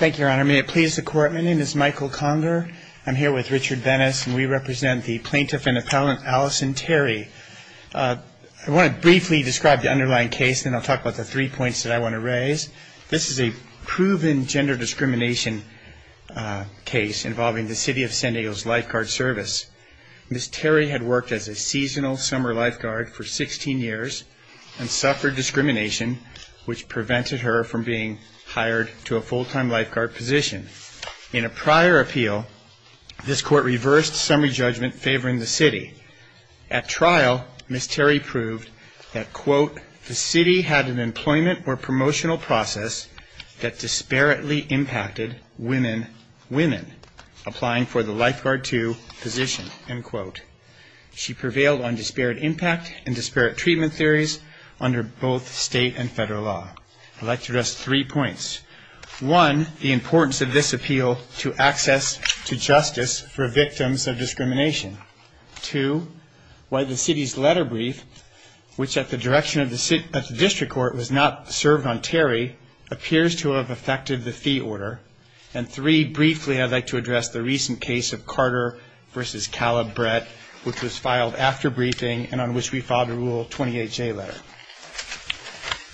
May it please the court, my name is Michael Conger. I'm here with Richard Venice and we represent the plaintiff and appellant Allison Terry. I want to briefly describe the underlying case and then I'll talk about the three points that I want to raise. This is a proven gender discrimination case involving the City of San Diego's lifeguard service. Ms. Terry had worked as a seasonal summer lifeguard for 16 years and suffered discrimination which prevented her from being hired to a full-time lifeguard position. In a prior appeal, this court reversed summary judgment favoring the City. At trial, Ms. Terry proved that, quote, the City had an employment or promotional process that disparately impacted women, women applying for the lifeguard 2 position, end quote. She prevailed on disparate impact and disparate treatment theories under both state and federal law. I'd like to address three points. One, the importance of this appeal to access to justice for victims of discrimination. Two, why the City's letter brief, which at the direction of the District Court was not served on Terry, appears to have affected the fee order. And three, briefly, I'd like to address the recent case of Carter v. Caleb Brett, which was filed after briefing and on which we filed a Rule 28J letter.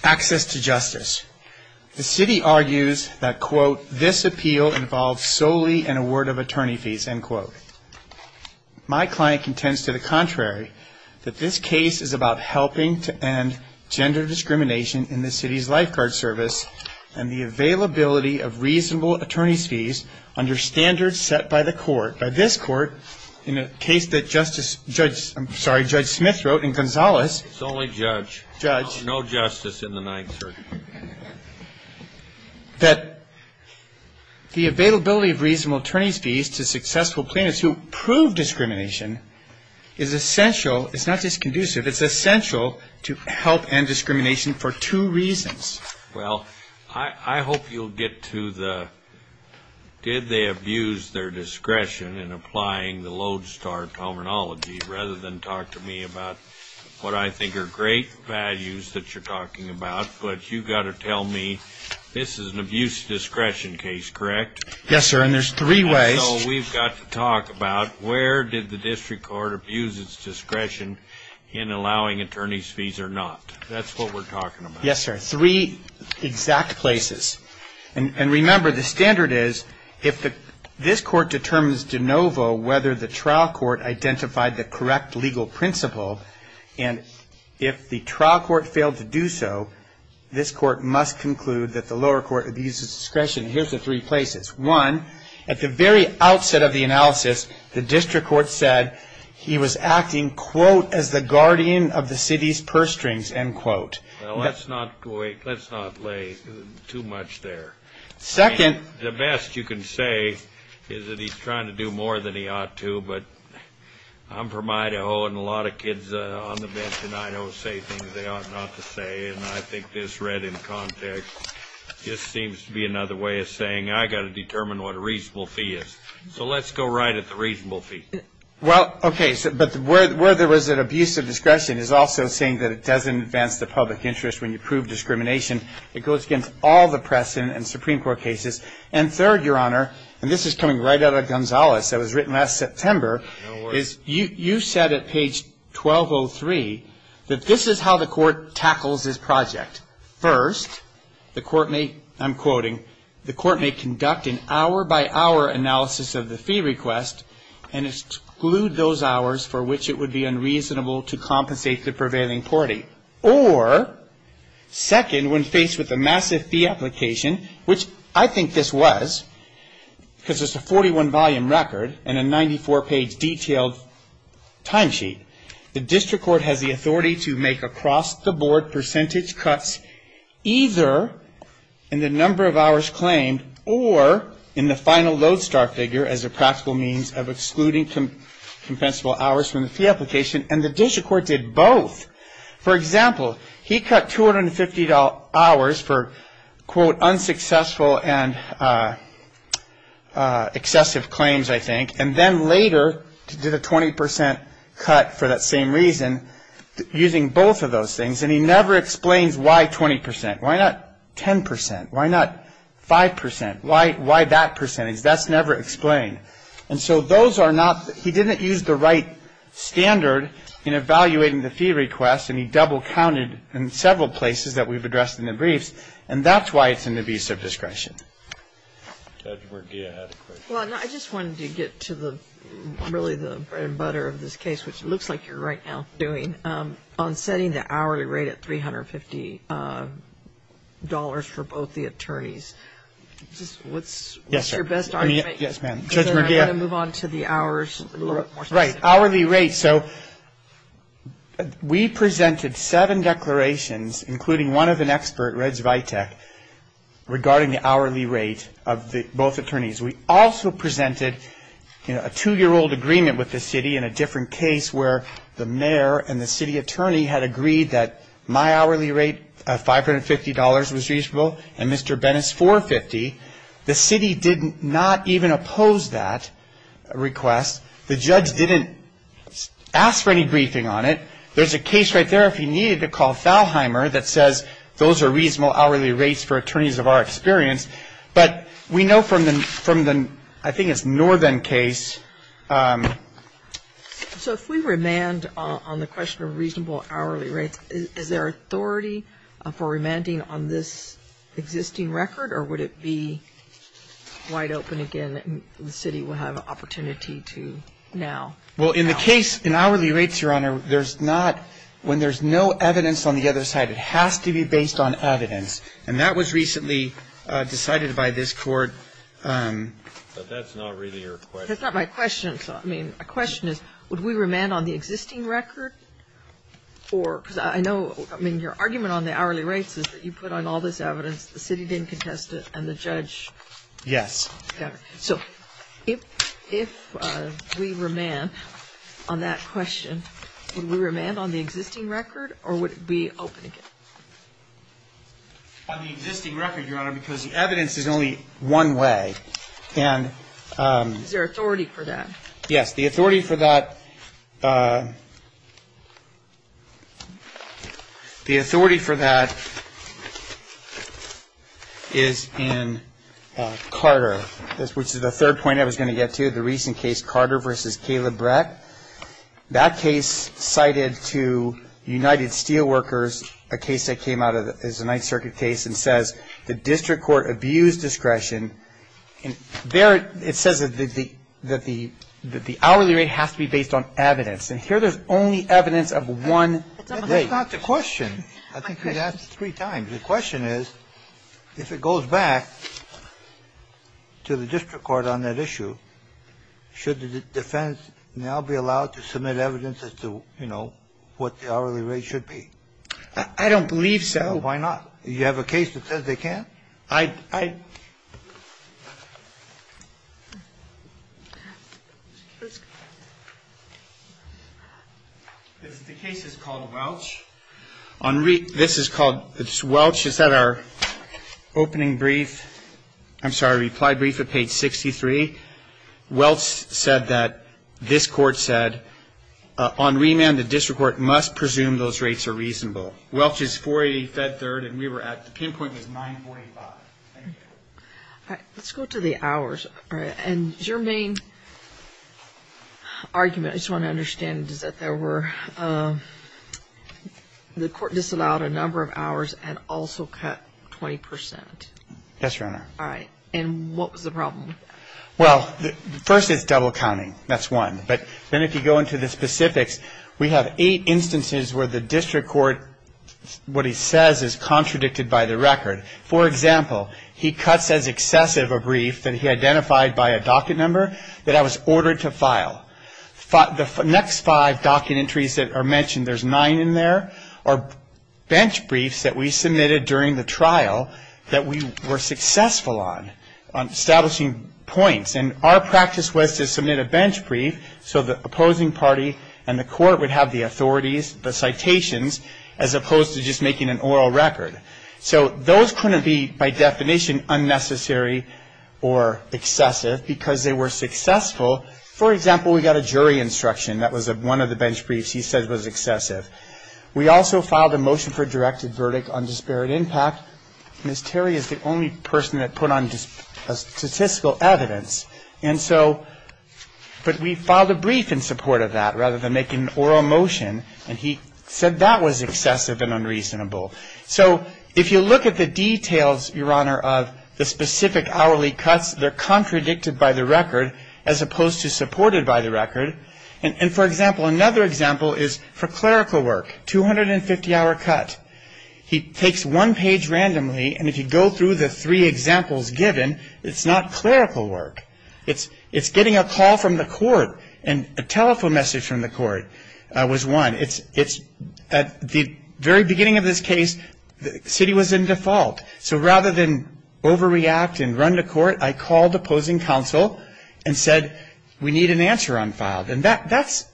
Access to justice. The City argues that, quote, this appeal involves solely an award of attorney fees, end quote. My client contends to the contrary, that this case is about helping to end gender discrimination in the City's lifeguard service and the availability of reasonable attorney's fees under standards set by the court. By this court, in a case that Judge Smith wrote in Gonzales. It's only judge. Judge. No justice in the ninth circuit. That the availability of reasonable attorney's fees to successful plaintiffs who prove discrimination is essential. It's not just conducive. It's essential to help end discrimination for two reasons. Well, I hope you'll get to the did they abuse their discretion in applying the Lodestar terminology, rather than talk to me about what I think are great values that you're talking about. But you've got to tell me this is an abuse discretion case, correct? Yes, sir, and there's three ways. So we've got to talk about where did the district court abuse its discretion in allowing attorney's fees or not? That's what we're talking about. Yes, sir. Three exact places. And remember, the standard is if this court determines de novo whether the trial court identified the correct legal principle, and if the trial court failed to do so, this court must conclude that the lower court abused its discretion. Here's the three places. One, at the very outset of the analysis, the district court said he was acting, quote, as the guardian of the city's purse strings, end quote. Well, let's not lay too much there. Second. The best you can say is that he's trying to do more than he ought to. But I'm from Idaho, and a lot of kids on the bench in Idaho say things they ought not to say. And I think this read in context just seems to be another way of saying I've got to determine what a reasonable fee is. So let's go right at the reasonable fee. Well, okay. But where there was an abuse of discretion is also saying that it doesn't advance the public interest when you prove discrimination. It goes against all the press and Supreme Court cases. And third, Your Honor, and this is coming right out of Gonzales that was written last September, you said at page 1203 that this is how the court tackles this project. First, the court may, I'm quoting, the court may conduct an hour-by-hour analysis of the fee request and exclude those hours for which it would be unreasonable to compensate the prevailing party. Or, second, when faced with a massive fee application, which I think this was, because it's a 41-volume record and a 94-page detailed timesheet, the district court has the authority to make across-the-board percentage cuts either in the number of hours claimed or in the final lodestar figure as a practical means of excluding compensable hours from the fee application. And the district court did both. For example, he cut $250 hours for, quote, unsuccessful and excessive claims, I think, and then later did a 20 percent cut for that same reason using both of those things. And he never explains why 20 percent. Why not 10 percent? Why not 5 percent? Why that percentage? That's never explained. And so those are not, he didn't use the right standard in evaluating the fee request, and he double-counted in several places that we've addressed in the briefs, and that's why it's an abuse of discretion. Judge Morgia had a question. Well, I just wanted to get to the, really the bread and butter of this case, which it looks like you're right now doing, on setting the hourly rate at $350 for both the attorneys. What's your best argument? Yes, ma'am. Judge Morgia. I'm going to move on to the hours. Right. Hourly rate. So we presented seven declarations, including one of an expert, Reg Vitek, regarding the hourly rate of both attorneys. We also presented, you know, a two-year-old agreement with the city in a different case where the mayor and the city attorney had agreed that my hourly rate of $550 was reasonable and Mr. Bennett's $450. The city did not even oppose that request. The judge didn't ask for any briefing on it. There's a case right there, if you need it, to call Falheimer that says, those are reasonable hourly rates for attorneys of our experience. But we know from the, I think it's Northern case. So if we remand on the question of reasonable hourly rates, is there authority for remanding on this existing record, or would it be wide open again that the city would have an opportunity to now? Well, in the case, in hourly rates, Your Honor, there's not, when there's no evidence on the other side, it has to be based on evidence. And that was recently decided by this Court. But that's not really your question. That's not my question. I mean, my question is, would we remand on the existing record? Or, because I know, I mean, your argument on the hourly rates is that you put on all this evidence, the city didn't contest it, and the judge. Yes. So if we remand on that question, would we remand on the existing record, or would it be open again? On the existing record, Your Honor, because the evidence is only one way. And. Is there authority for that? Yes, the authority for that is in Carter, which is the third point I was going to get to, the recent case, Carter v. Caleb Brett. That case cited to United Steelworkers, a case that came out as a Ninth Circuit case, and says, the district court abused discretion. And there it says that the hourly rate has to be based on evidence. And here there's only evidence of one rate. That's not the question. I think you asked three times. The question is, if it goes back to the district court on that issue, should the defense now be allowed to submit evidence as to, you know, what the hourly rate should be? I don't believe so. Why not? You have a case that says they can't? I. The case is called Welch. This is called, it's Welch. It's at our opening brief. I'm sorry, reply brief at page 63. Welch said that, this court said, on remand the district court must presume those rates are reasonable. Welch is 480 Fed Third and we were at, the pinpoint was 945. Thank you. All right. Let's go to the hours. And your main argument, I just want to understand, is that there were, the court disallowed a number of hours and also cut 20%. Yes, Your Honor. All right. And what was the problem with that? Well, first it's double counting. That's one. But then if you go into the specifics, we have eight instances where the district court, what he says is contradicted by the record. For example, he cuts as excessive a brief that he identified by a docket number that I was ordered to file. The next five docket entries that are mentioned, there's nine in there, are bench briefs that we submitted during the trial that we were successful on, on establishing points. And our practice was to submit a bench brief so the opposing party and the court would have the authorities, the citations, as opposed to just making an oral record. So those couldn't be, by definition, unnecessary or excessive because they were successful. For example, we got a jury instruction. That was one of the bench briefs he said was excessive. We also filed a motion for a directed verdict on disparate impact. Ms. Terry is the only person that put on statistical evidence. But we filed a brief in support of that rather than making an oral motion, and he said that was excessive and unreasonable. So if you look at the details, Your Honor, of the specific hourly cuts, they're contradicted by the record as opposed to supported by the record. And, for example, another example is for clerical work, 250-hour cut. He takes one page randomly, and if you go through the three examples given, it's not clerical work. It's getting a call from the court and a telephone message from the court was one. At the very beginning of this case, the city was in default. So rather than overreact and run to court, I called opposing counsel and said, we need an answer unfiled. And that's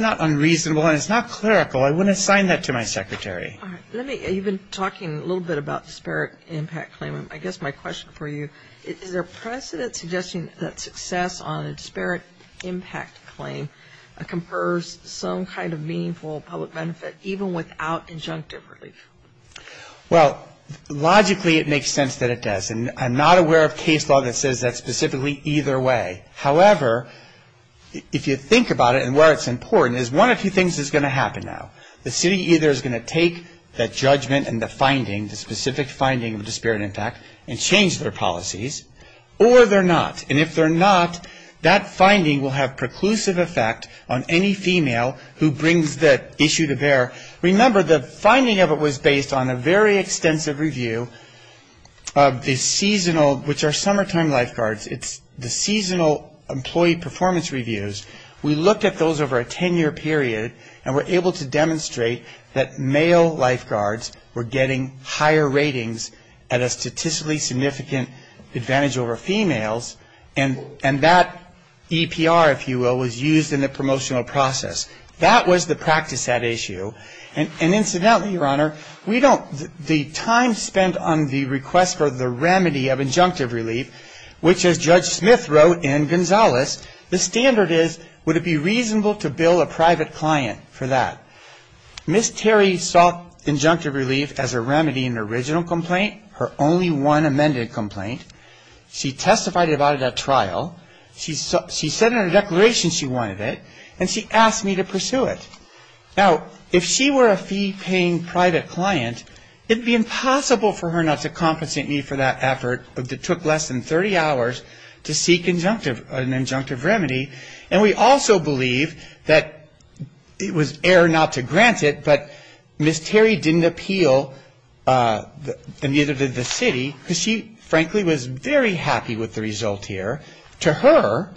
not unreasonable, and it's not clerical. I wouldn't assign that to my secretary. You've been talking a little bit about disparate impact claim. I guess my question for you, is there precedent suggesting that success on a disparate impact claim confers some kind of meaningful public benefit even without injunctive relief? Well, logically it makes sense that it does, and I'm not aware of case law that says that specifically either way. However, if you think about it and where it's important, there's one of two things that's going to happen now. The city either is going to take that judgment and the finding, the specific finding of disparate impact, and change their policies, or they're not. And if they're not, that finding will have preclusive effect on any female who brings that issue to bear. Remember, the finding of it was based on a very extensive review of the seasonal, which are summertime lifeguards. It's the seasonal employee performance reviews. We looked at those over a ten-year period and were able to demonstrate that male lifeguards were getting higher ratings at a statistically significant advantage over females, and that EPR, if you will, was used in the promotional process. That was the practice at issue. And incidentally, Your Honor, we don't, the time spent on the request for the remedy of injunctive relief, which as Judge Smith wrote in Gonzales, the standard is, would it be reasonable to bill a private client for that? Ms. Terry sought injunctive relief as a remedy in the original complaint, her only one amended complaint. She testified about it at trial. She said in her declaration she wanted it, and she asked me to pursue it. Now, if she were a fee-paying private client, it would be impossible for her not to compensate me for that effort that took less than 30 hours to seek an injunctive remedy. And we also believe that it was error not to grant it, but Ms. Terry didn't appeal, and neither did the city, because she frankly was very happy with the result here. To her,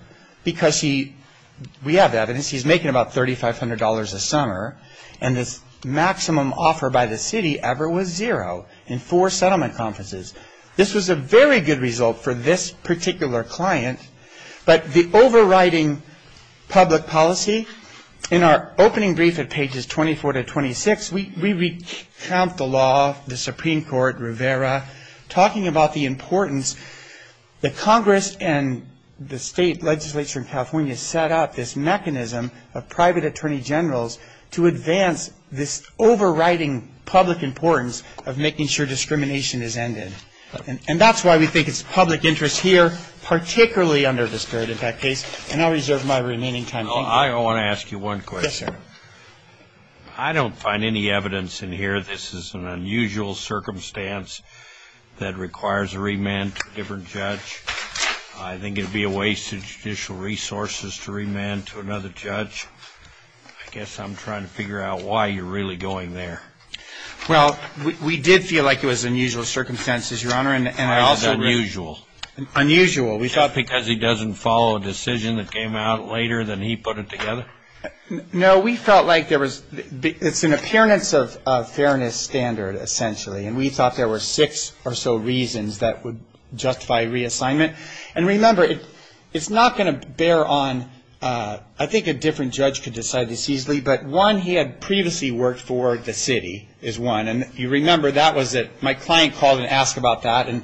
because she, we have evidence, she's making about $3,500 a summer, and the maximum offer by the city ever was zero in four settlement conferences. This was a very good result for this particular client, but the overriding public policy, in our opening brief at pages 24 to 26, we recount the law, the Supreme Court, Rivera, talking about the importance. The Congress and the state legislature in California set up this mechanism of private attorney generals to advance this overriding public importance of making sure discrimination is ended. And that's why we think it's a public interest here, particularly under the spirit of that case, and I'll reserve my remaining time. I want to ask you one question. Yes, sir. I don't find any evidence in here this is an unusual circumstance that requires a remand to a different judge. I think it would be a waste of judicial resources to remand to another judge. I guess I'm trying to figure out why you're really going there. Well, we did feel like it was unusual circumstances, Your Honor, and I also ---- Why is it unusual? Unusual. We thought ---- Just because he doesn't follow a decision that came out later than he put it together? No. We felt like there was ---- it's an appearance of fairness standard, essentially, and we thought there were six or so reasons that would justify reassignment. And remember, it's not going to bear on ---- I think a different judge could decide this easily, but one, he had previously worked for the city is one, and you remember that was that my client called and asked about that, and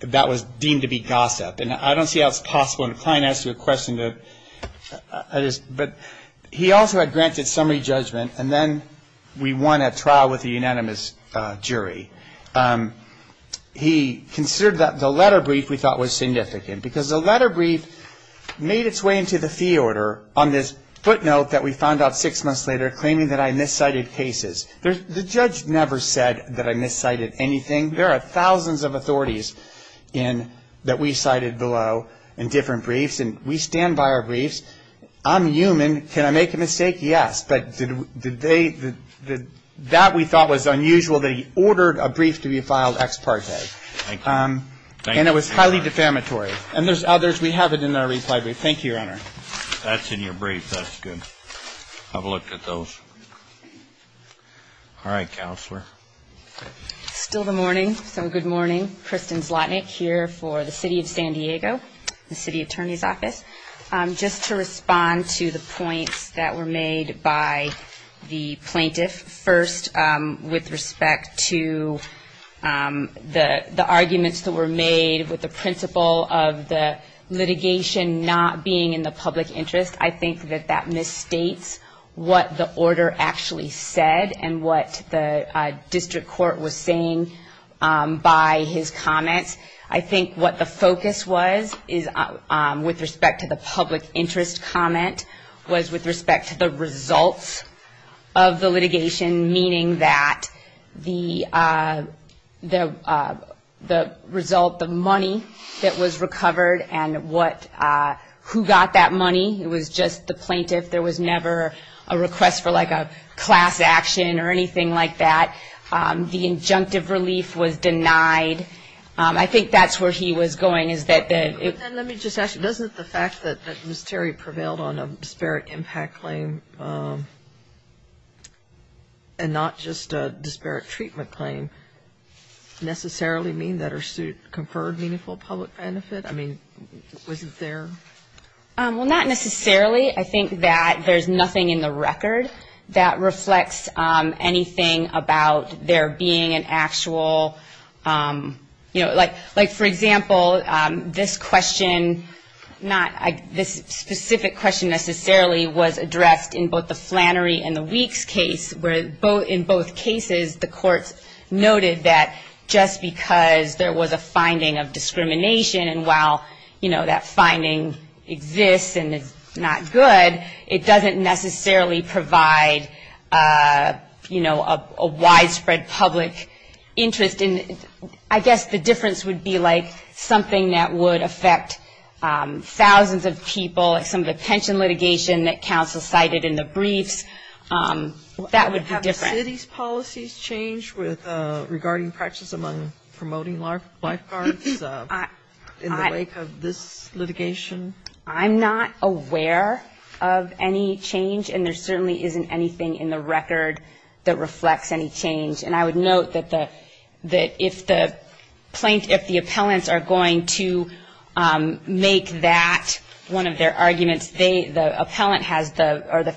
that was deemed to be gossip. And I don't see how it's possible when a client asks you a question to ---- but he also had granted summary judgment, and then we won a trial with a unanimous jury. He considered the letter brief we thought was significant because the letter brief made its way into the fee order on this footnote that we found out six months later claiming that I miscited cases. The judge never said that I miscited anything. There are thousands of authorities that we cited below in different briefs, and we stand by our briefs. I'm human. Can I make a mistake? Yes. But that we thought was unusual that he ordered a brief to be filed ex parte. Thank you. And it was highly defamatory. And there's others. We have it in our reply brief. Thank you, Your Honor. That's in your brief. That's good. Have a look at those. All right, Counselor. Still the morning, so good morning. Kristen Zlotnick here for the City of San Diego, the City Attorney's Office. Just to respond to the points that were made by the plaintiff, first with respect to the arguments that were made with the principle of the litigation not being in the public interest, I think that that misstates what the order actually said and what the district court was saying by his comments. I think what the focus was with respect to the public interest comment was with respect to the results of the litigation, meaning that the result, the money that was recovered and who got that money. It was just the plaintiff. There was never a request for, like, a class action or anything like that. The injunctive relief was denied. I think that's where he was going is that the --. And let me just ask you, doesn't the fact that Ms. Terry prevailed on a disparate impact claim and not just a disparate treatment claim necessarily mean that her suit conferred meaningful public benefit? I mean, was it there? Well, not necessarily. I think that there's nothing in the record that reflects anything about there being an actual, you know, like, for example, this question, not this specific question necessarily, was addressed in both the Flannery and the Weeks case, where in both cases the courts noted that just because there was a finding of discrimination and while, you know, that finding exists and is not good, it doesn't necessarily provide, you know, a widespread public interest. And I guess the difference would be, like, something that would affect thousands of people, like some of the pension litigation that counsel cited in the briefs, that would be different. Have the city's policies changed regarding practices among promoting lifeguards in the wake of this litigation? I'm not aware of any change, and there certainly isn't anything in the record that reflects any change. And I would note that if the plaintiffs, if the appellants are going to make that one of their arguments, the appellant has the or the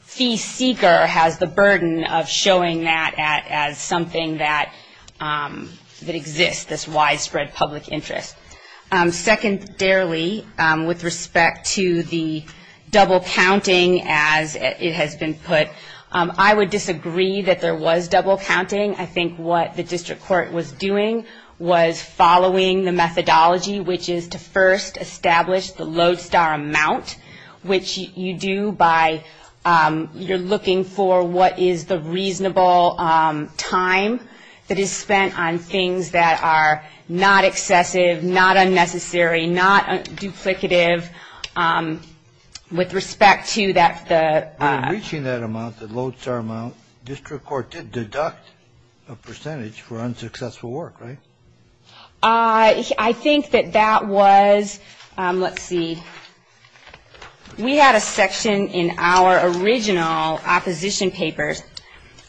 fee seeker has the burden of showing that as something that exists, this widespread public interest. Secondarily, with respect to the double counting as it has been put, I would disagree that there was double counting. I think what the district court was doing was following the methodology, which is to first establish the lodestar amount, which you do by you're looking for what is the reasonable time that is spent on things that are not excessive, not unnecessary, not duplicative. With respect to that, the. Reaching that amount, the lodestar amount, district court did deduct a percentage for unsuccessful work, right? I think that that was, let's see. We had a section in our original opposition papers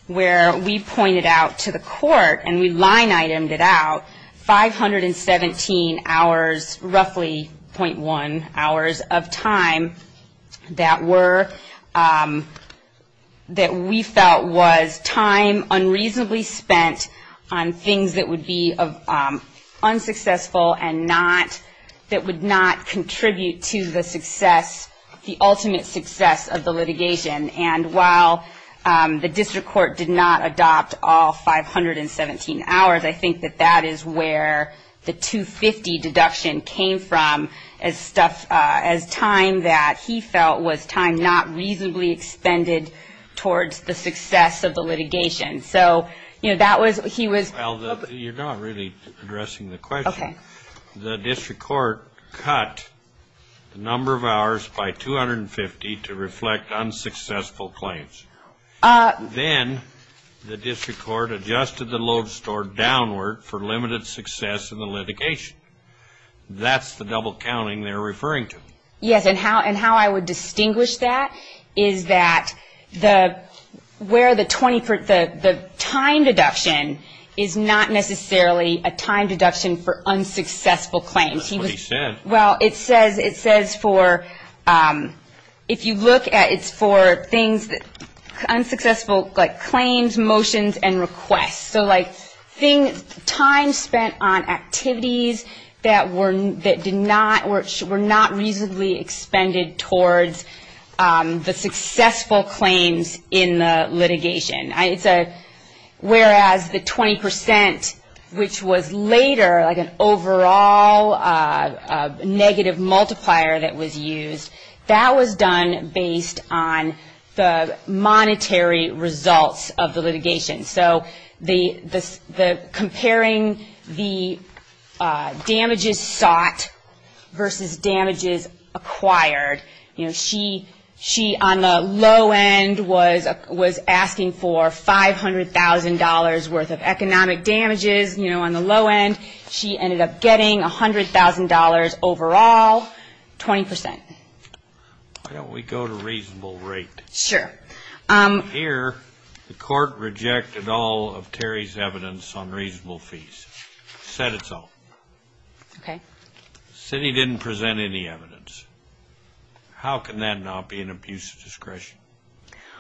where we pointed out to the court and we line itemed it out, 517 hours, roughly .1 hours of time that were, that we felt was time unreasonably spent on things that would be unsuccessful and not, that would not contribute to the success, the ultimate success of the litigation. And while the district court did not adopt all 517 hours, I think that that is where the 250 deduction came from as stuff, as time that he felt was time not reasonably expended towards the success of the litigation. So, you know, that was, he was. You're not really addressing the question. Okay. The district court cut the number of hours by 250 to reflect unsuccessful claims. Then the district court adjusted the lodestar downward for limited success in the litigation. That's the double counting they're referring to. Yes, and how I would distinguish that is that the, where the time deduction is not necessarily a time deduction for unsuccessful claims. That's what he said. Well, it says, it says for, if you look at, it's for things that, unsuccessful, like claims, motions, and requests. So, like, time spent on activities that were, that did not, were not reasonably expended towards the successful claims in the litigation. It's a, whereas the 20%, which was later like an overall negative multiplier that was used, that was done based on the monetary results of the litigation. So, the comparing the damages sought versus damages acquired, you know, she on the low end was asking for $500,000 worth of economic damages. You know, on the low end, she ended up getting $100,000 overall, 20%. Why don't we go to reasonable rate? Sure. Okay. Here, the court rejected all of Terry's evidence on reasonable fees, said it's all. Okay. Said he didn't present any evidence. How can that not be an abuse of discretion?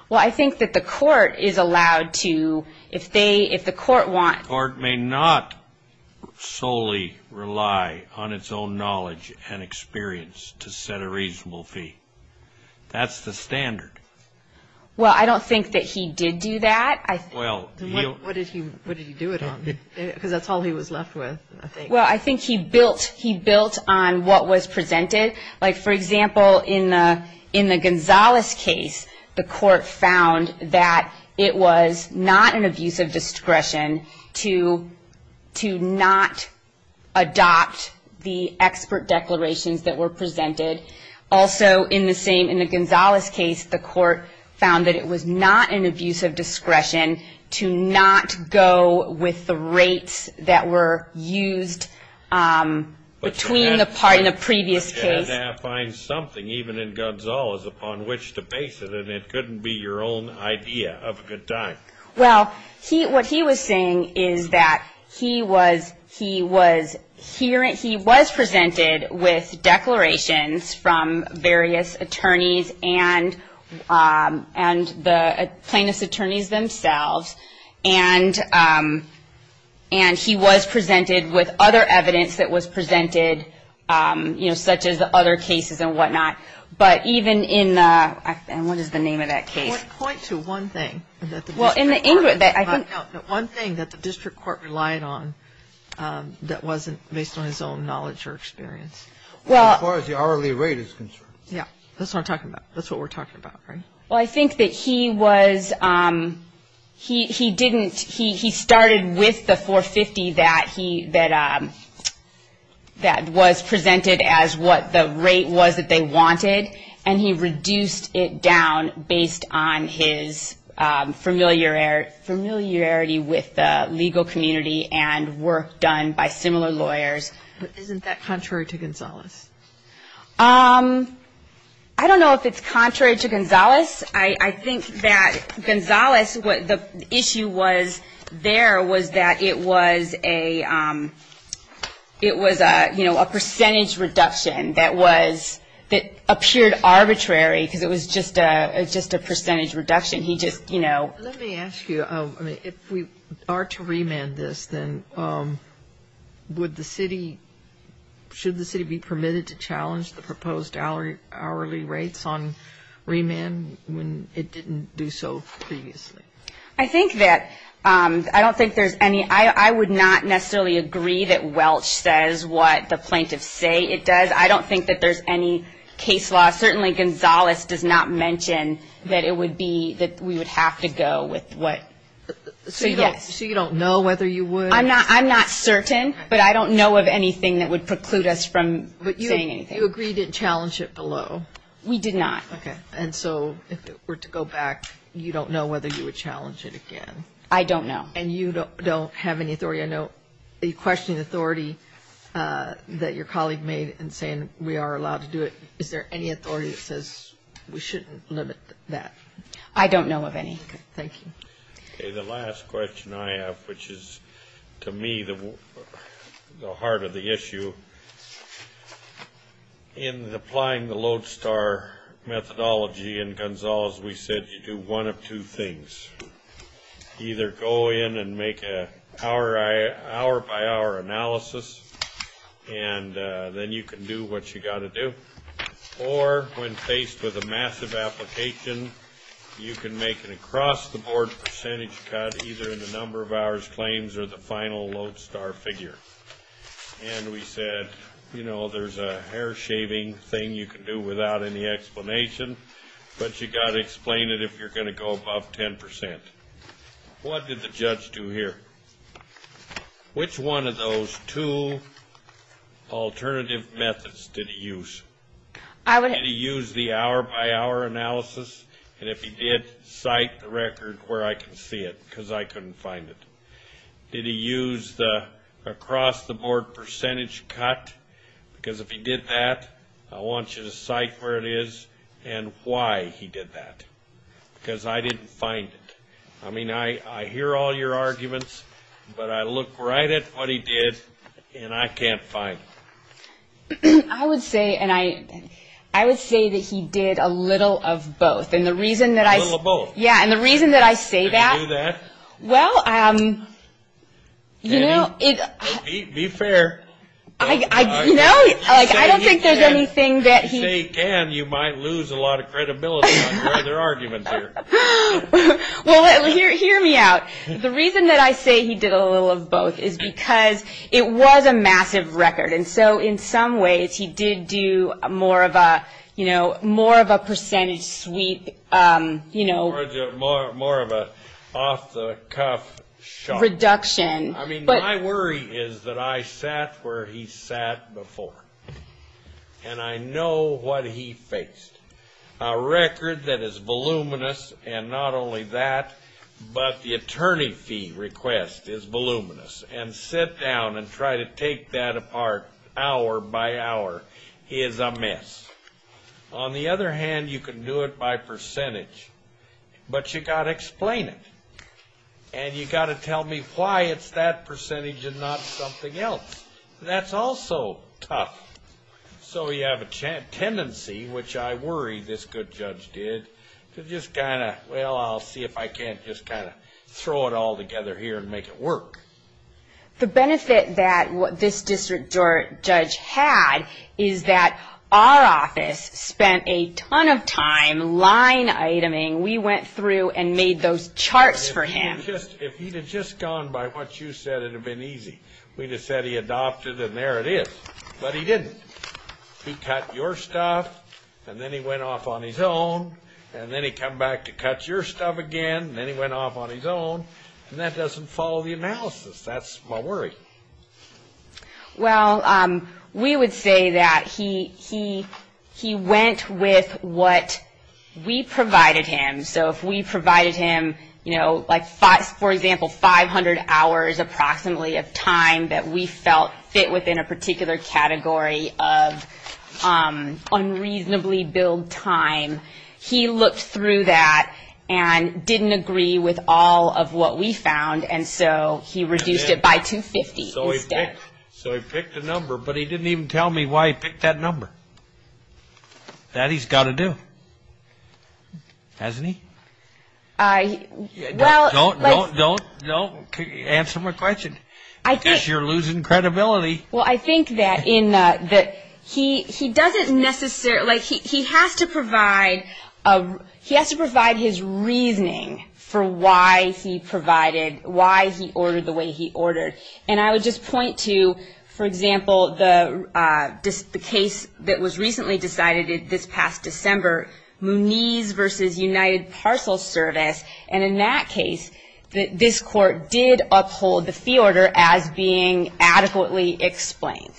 Well, I think that the court is allowed to, if they, if the court wants. The court may not solely rely on its own knowledge and experience to set a reasonable fee. That's the standard. Well, I don't think that he did do that. Well. What did he do it on? Because that's all he was left with, I think. Well, I think he built on what was presented. Like, for example, in the Gonzales case, the court found that it was not an abuse of discretion to not adopt the expert declarations that were presented. Also, in the same, in the Gonzales case, the court found that it was not an abuse of discretion to not go with the rates that were used between the part, in the previous case. But you had to find something, even in Gonzales, upon which to base it, and it couldn't be your own idea of a good time. Well, he, what he was saying is that he was, he was, he was presented with declarations from various attorneys and the plaintiff's attorneys themselves, and he was presented with other evidence that was presented, you know, such as the other cases and whatnot. But even in the, and what is the name of that case? Point to one thing that the district court relied on that wasn't based on his own knowledge or experience. Well. As far as the hourly rate is concerned. Yeah. That's what I'm talking about. That's what we're talking about, right? Well, I think that he was, he didn't, he started with the 450 that he, that was presented as what the rate was that they wanted, and he reduced it down based on his familiarity with the legal community and work done by similar lawyers. But isn't that contrary to Gonzales? I don't know if it's contrary to Gonzales. I think that Gonzales, what the issue was there was that it was a, it was a, you know, a percentage reduction that was, that appeared arbitrary because it was just a percentage reduction. He just, you know. Let me ask you, if we are to remand this, then would the city, should the city be permitted to challenge the proposed hourly rates on remand when it didn't do so previously? I think that, I don't think there's any, I would not necessarily agree that Welch says what the plaintiffs say it does. I don't think that there's any case law. Certainly Gonzales does not mention that it would be, that we would have to go with what. So you don't know whether you would? I'm not certain, but I don't know of anything that would preclude us from saying anything. But you agreed to challenge it below? We did not. Okay. And so if it were to go back, you don't know whether you would challenge it again? I don't know. And you don't have any authority? I know you questioned the authority that your colleague made in saying we are allowed to do it. Is there any authority that says we shouldn't limit that? I don't know of any. Okay. Thank you. Okay. The last question I have, which is, to me, the heart of the issue, in applying the lodestar methodology in Gonzales, we said you do one of two things. Either go in and make an hour-by-hour analysis, and then you can do what you've got to do. Or when faced with a massive application, you can make an across-the-board percentage cut, either in the number of hours claims or the final lodestar figure. And we said, you know, there's a hair shaving thing you can do without any explanation, but you've got to explain it if you're going to go above 10%. What did the judge do here? Which one of those two alternative methods did he use? Did he use the hour-by-hour analysis? And if he did, cite the record where I can see it, because I couldn't find it. Did he use the across-the-board percentage cut? Because if he did that, I want you to cite where it is and why he did that. Because I didn't find it. I mean, I hear all your arguments, but I look right at what he did, and I can't find it. I would say, and I would say that he did a little of both. A little of both? Yeah, and the reason that I say that. Did he do that? Well, you know, it. Annie, be fair. No, I don't think there's anything that he. If you say he can, you might lose a lot of credibility on your other arguments here. Well, hear me out. The reason that I say he did a little of both is because it was a massive record, and so in some ways he did do more of a, you know, more of a percentage sweep, you know. More of an off-the-cuff shot. Reduction. I mean, my worry is that I sat where he sat before, and I know what he faced. A record that is voluminous, and not only that, but the attorney fee request is voluminous, and sit down and try to take that apart hour by hour is a mess. On the other hand, you can do it by percentage, but you've got to explain it, and you've got to tell me why it's that percentage and not something else. That's also tough. So you have a tendency, which I worry this good judge did, to just kind of, well, I'll see if I can't just kind of throw it all together here and make it work. The benefit that this district judge had is that our office spent a ton of time line-iteming. We went through and made those charts for him. If he had just gone by what you said, it would have been easy. We would have said he adopted, and there it is. But he didn't. He cut your stuff, and then he went off on his own, and then he came back to cut your stuff again, and then he went off on his own, and that doesn't follow the analysis. That's my worry. Well, we would say that he went with what we provided him. So if we provided him, you know, like, for example, 500 hours approximately of time that we felt fit within a particular category of unreasonably billed time, he looked through that and didn't agree with all of what we found, and so he reduced it by 250 instead. So he picked a number, but he didn't even tell me why he picked that number. That he's got to do. Hasn't he? Don't answer my question, because you're losing credibility. Well, I think that he doesn't necessarily, like, he has to provide his reasoning for why he provided, why he ordered the way he ordered. And I would just point to, for example, the case that was recently decided this past December, Mooney's v. United Parcel Service, and in that case, this Court did uphold the fee order as being adequately explained.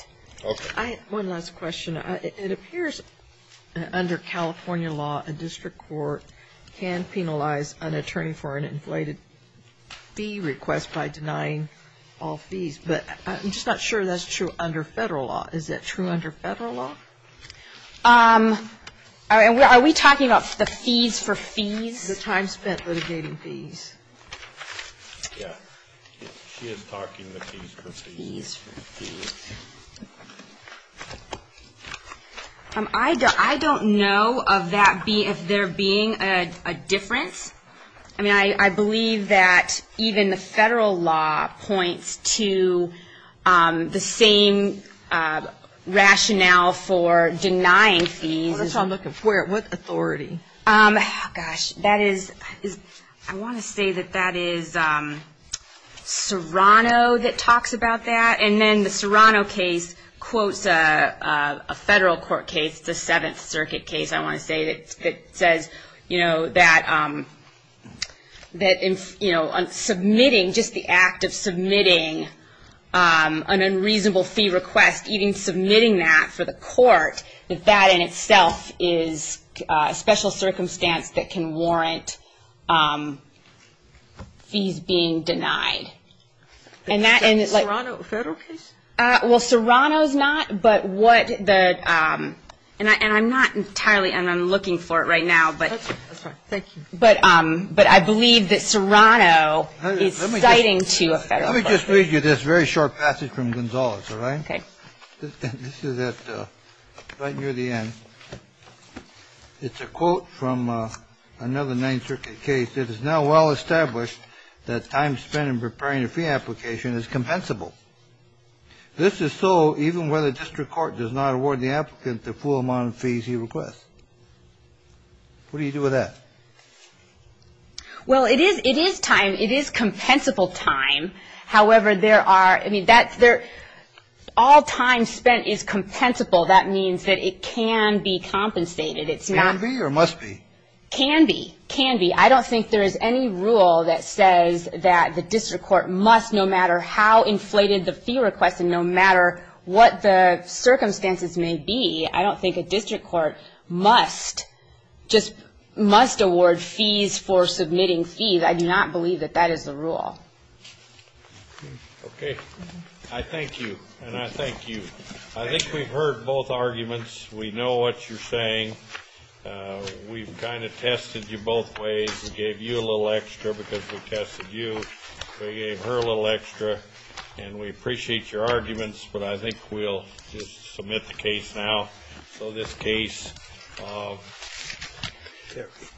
Okay. One last question. It appears under California law, a district court can penalize an attorney for an inflated fee request by denying all fees. But I'm just not sure that's true under Federal law. Is that true under Federal law? Are we talking about the fees for fees? The time spent litigating fees. Yeah. She is talking the fees for fees. Fees for fees. I don't know of there being a difference. I mean, I believe that even the Federal law points to the same rationale for denying fees. Well, that's what I'm looking for. What authority? Gosh, that is, I want to say that that is Serrano that talks about that, and then the Serrano case quotes a Federal court case, the Seventh Circuit case, I want to say that says, you know, that submitting, just the act of submitting an unreasonable fee request, even submitting that for the court, that that in itself is a special circumstance that can warrant fees being denied. Is Serrano a Federal case? Well, Serrano's not, but what the, and I'm not entirely, and I'm looking for it right now. That's fine. Thank you. But I believe that Serrano is citing to a Federal case. Let me just read you this very short passage from Gonzalez, all right? Okay. This is at, right near the end. It's a quote from another Ninth Circuit case. It is now well established that time spent in preparing a fee application is compensable. This is so even when the district court does not award the applicant the full amount of fees he requests. What do you do with that? Well, it is time, it is compensable time. However, there are, I mean, that's their, all time spent is compensable. That means that it can be compensated. It's not. Can be or must be? Can be. Can be. I don't think there is any rule that says that the district court must, no matter how inflated the fee request and no matter what the circumstances may be, I don't think a district court must, just must award fees for submitting fees. I do not believe that that is the rule. Okay. I thank you, and I thank you. I think we've heard both arguments. We know what you're saying. We've kind of tested you both ways and gave you a little extra because we tested you. We gave her a little extra, and we appreciate your arguments, but I think we'll just submit the case now. So this case,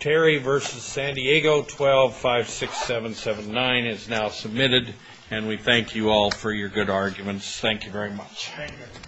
Terry v. San Diego, 12-56779 is now submitted, and we thank you all for your good arguments. Thank you very much. Thank you.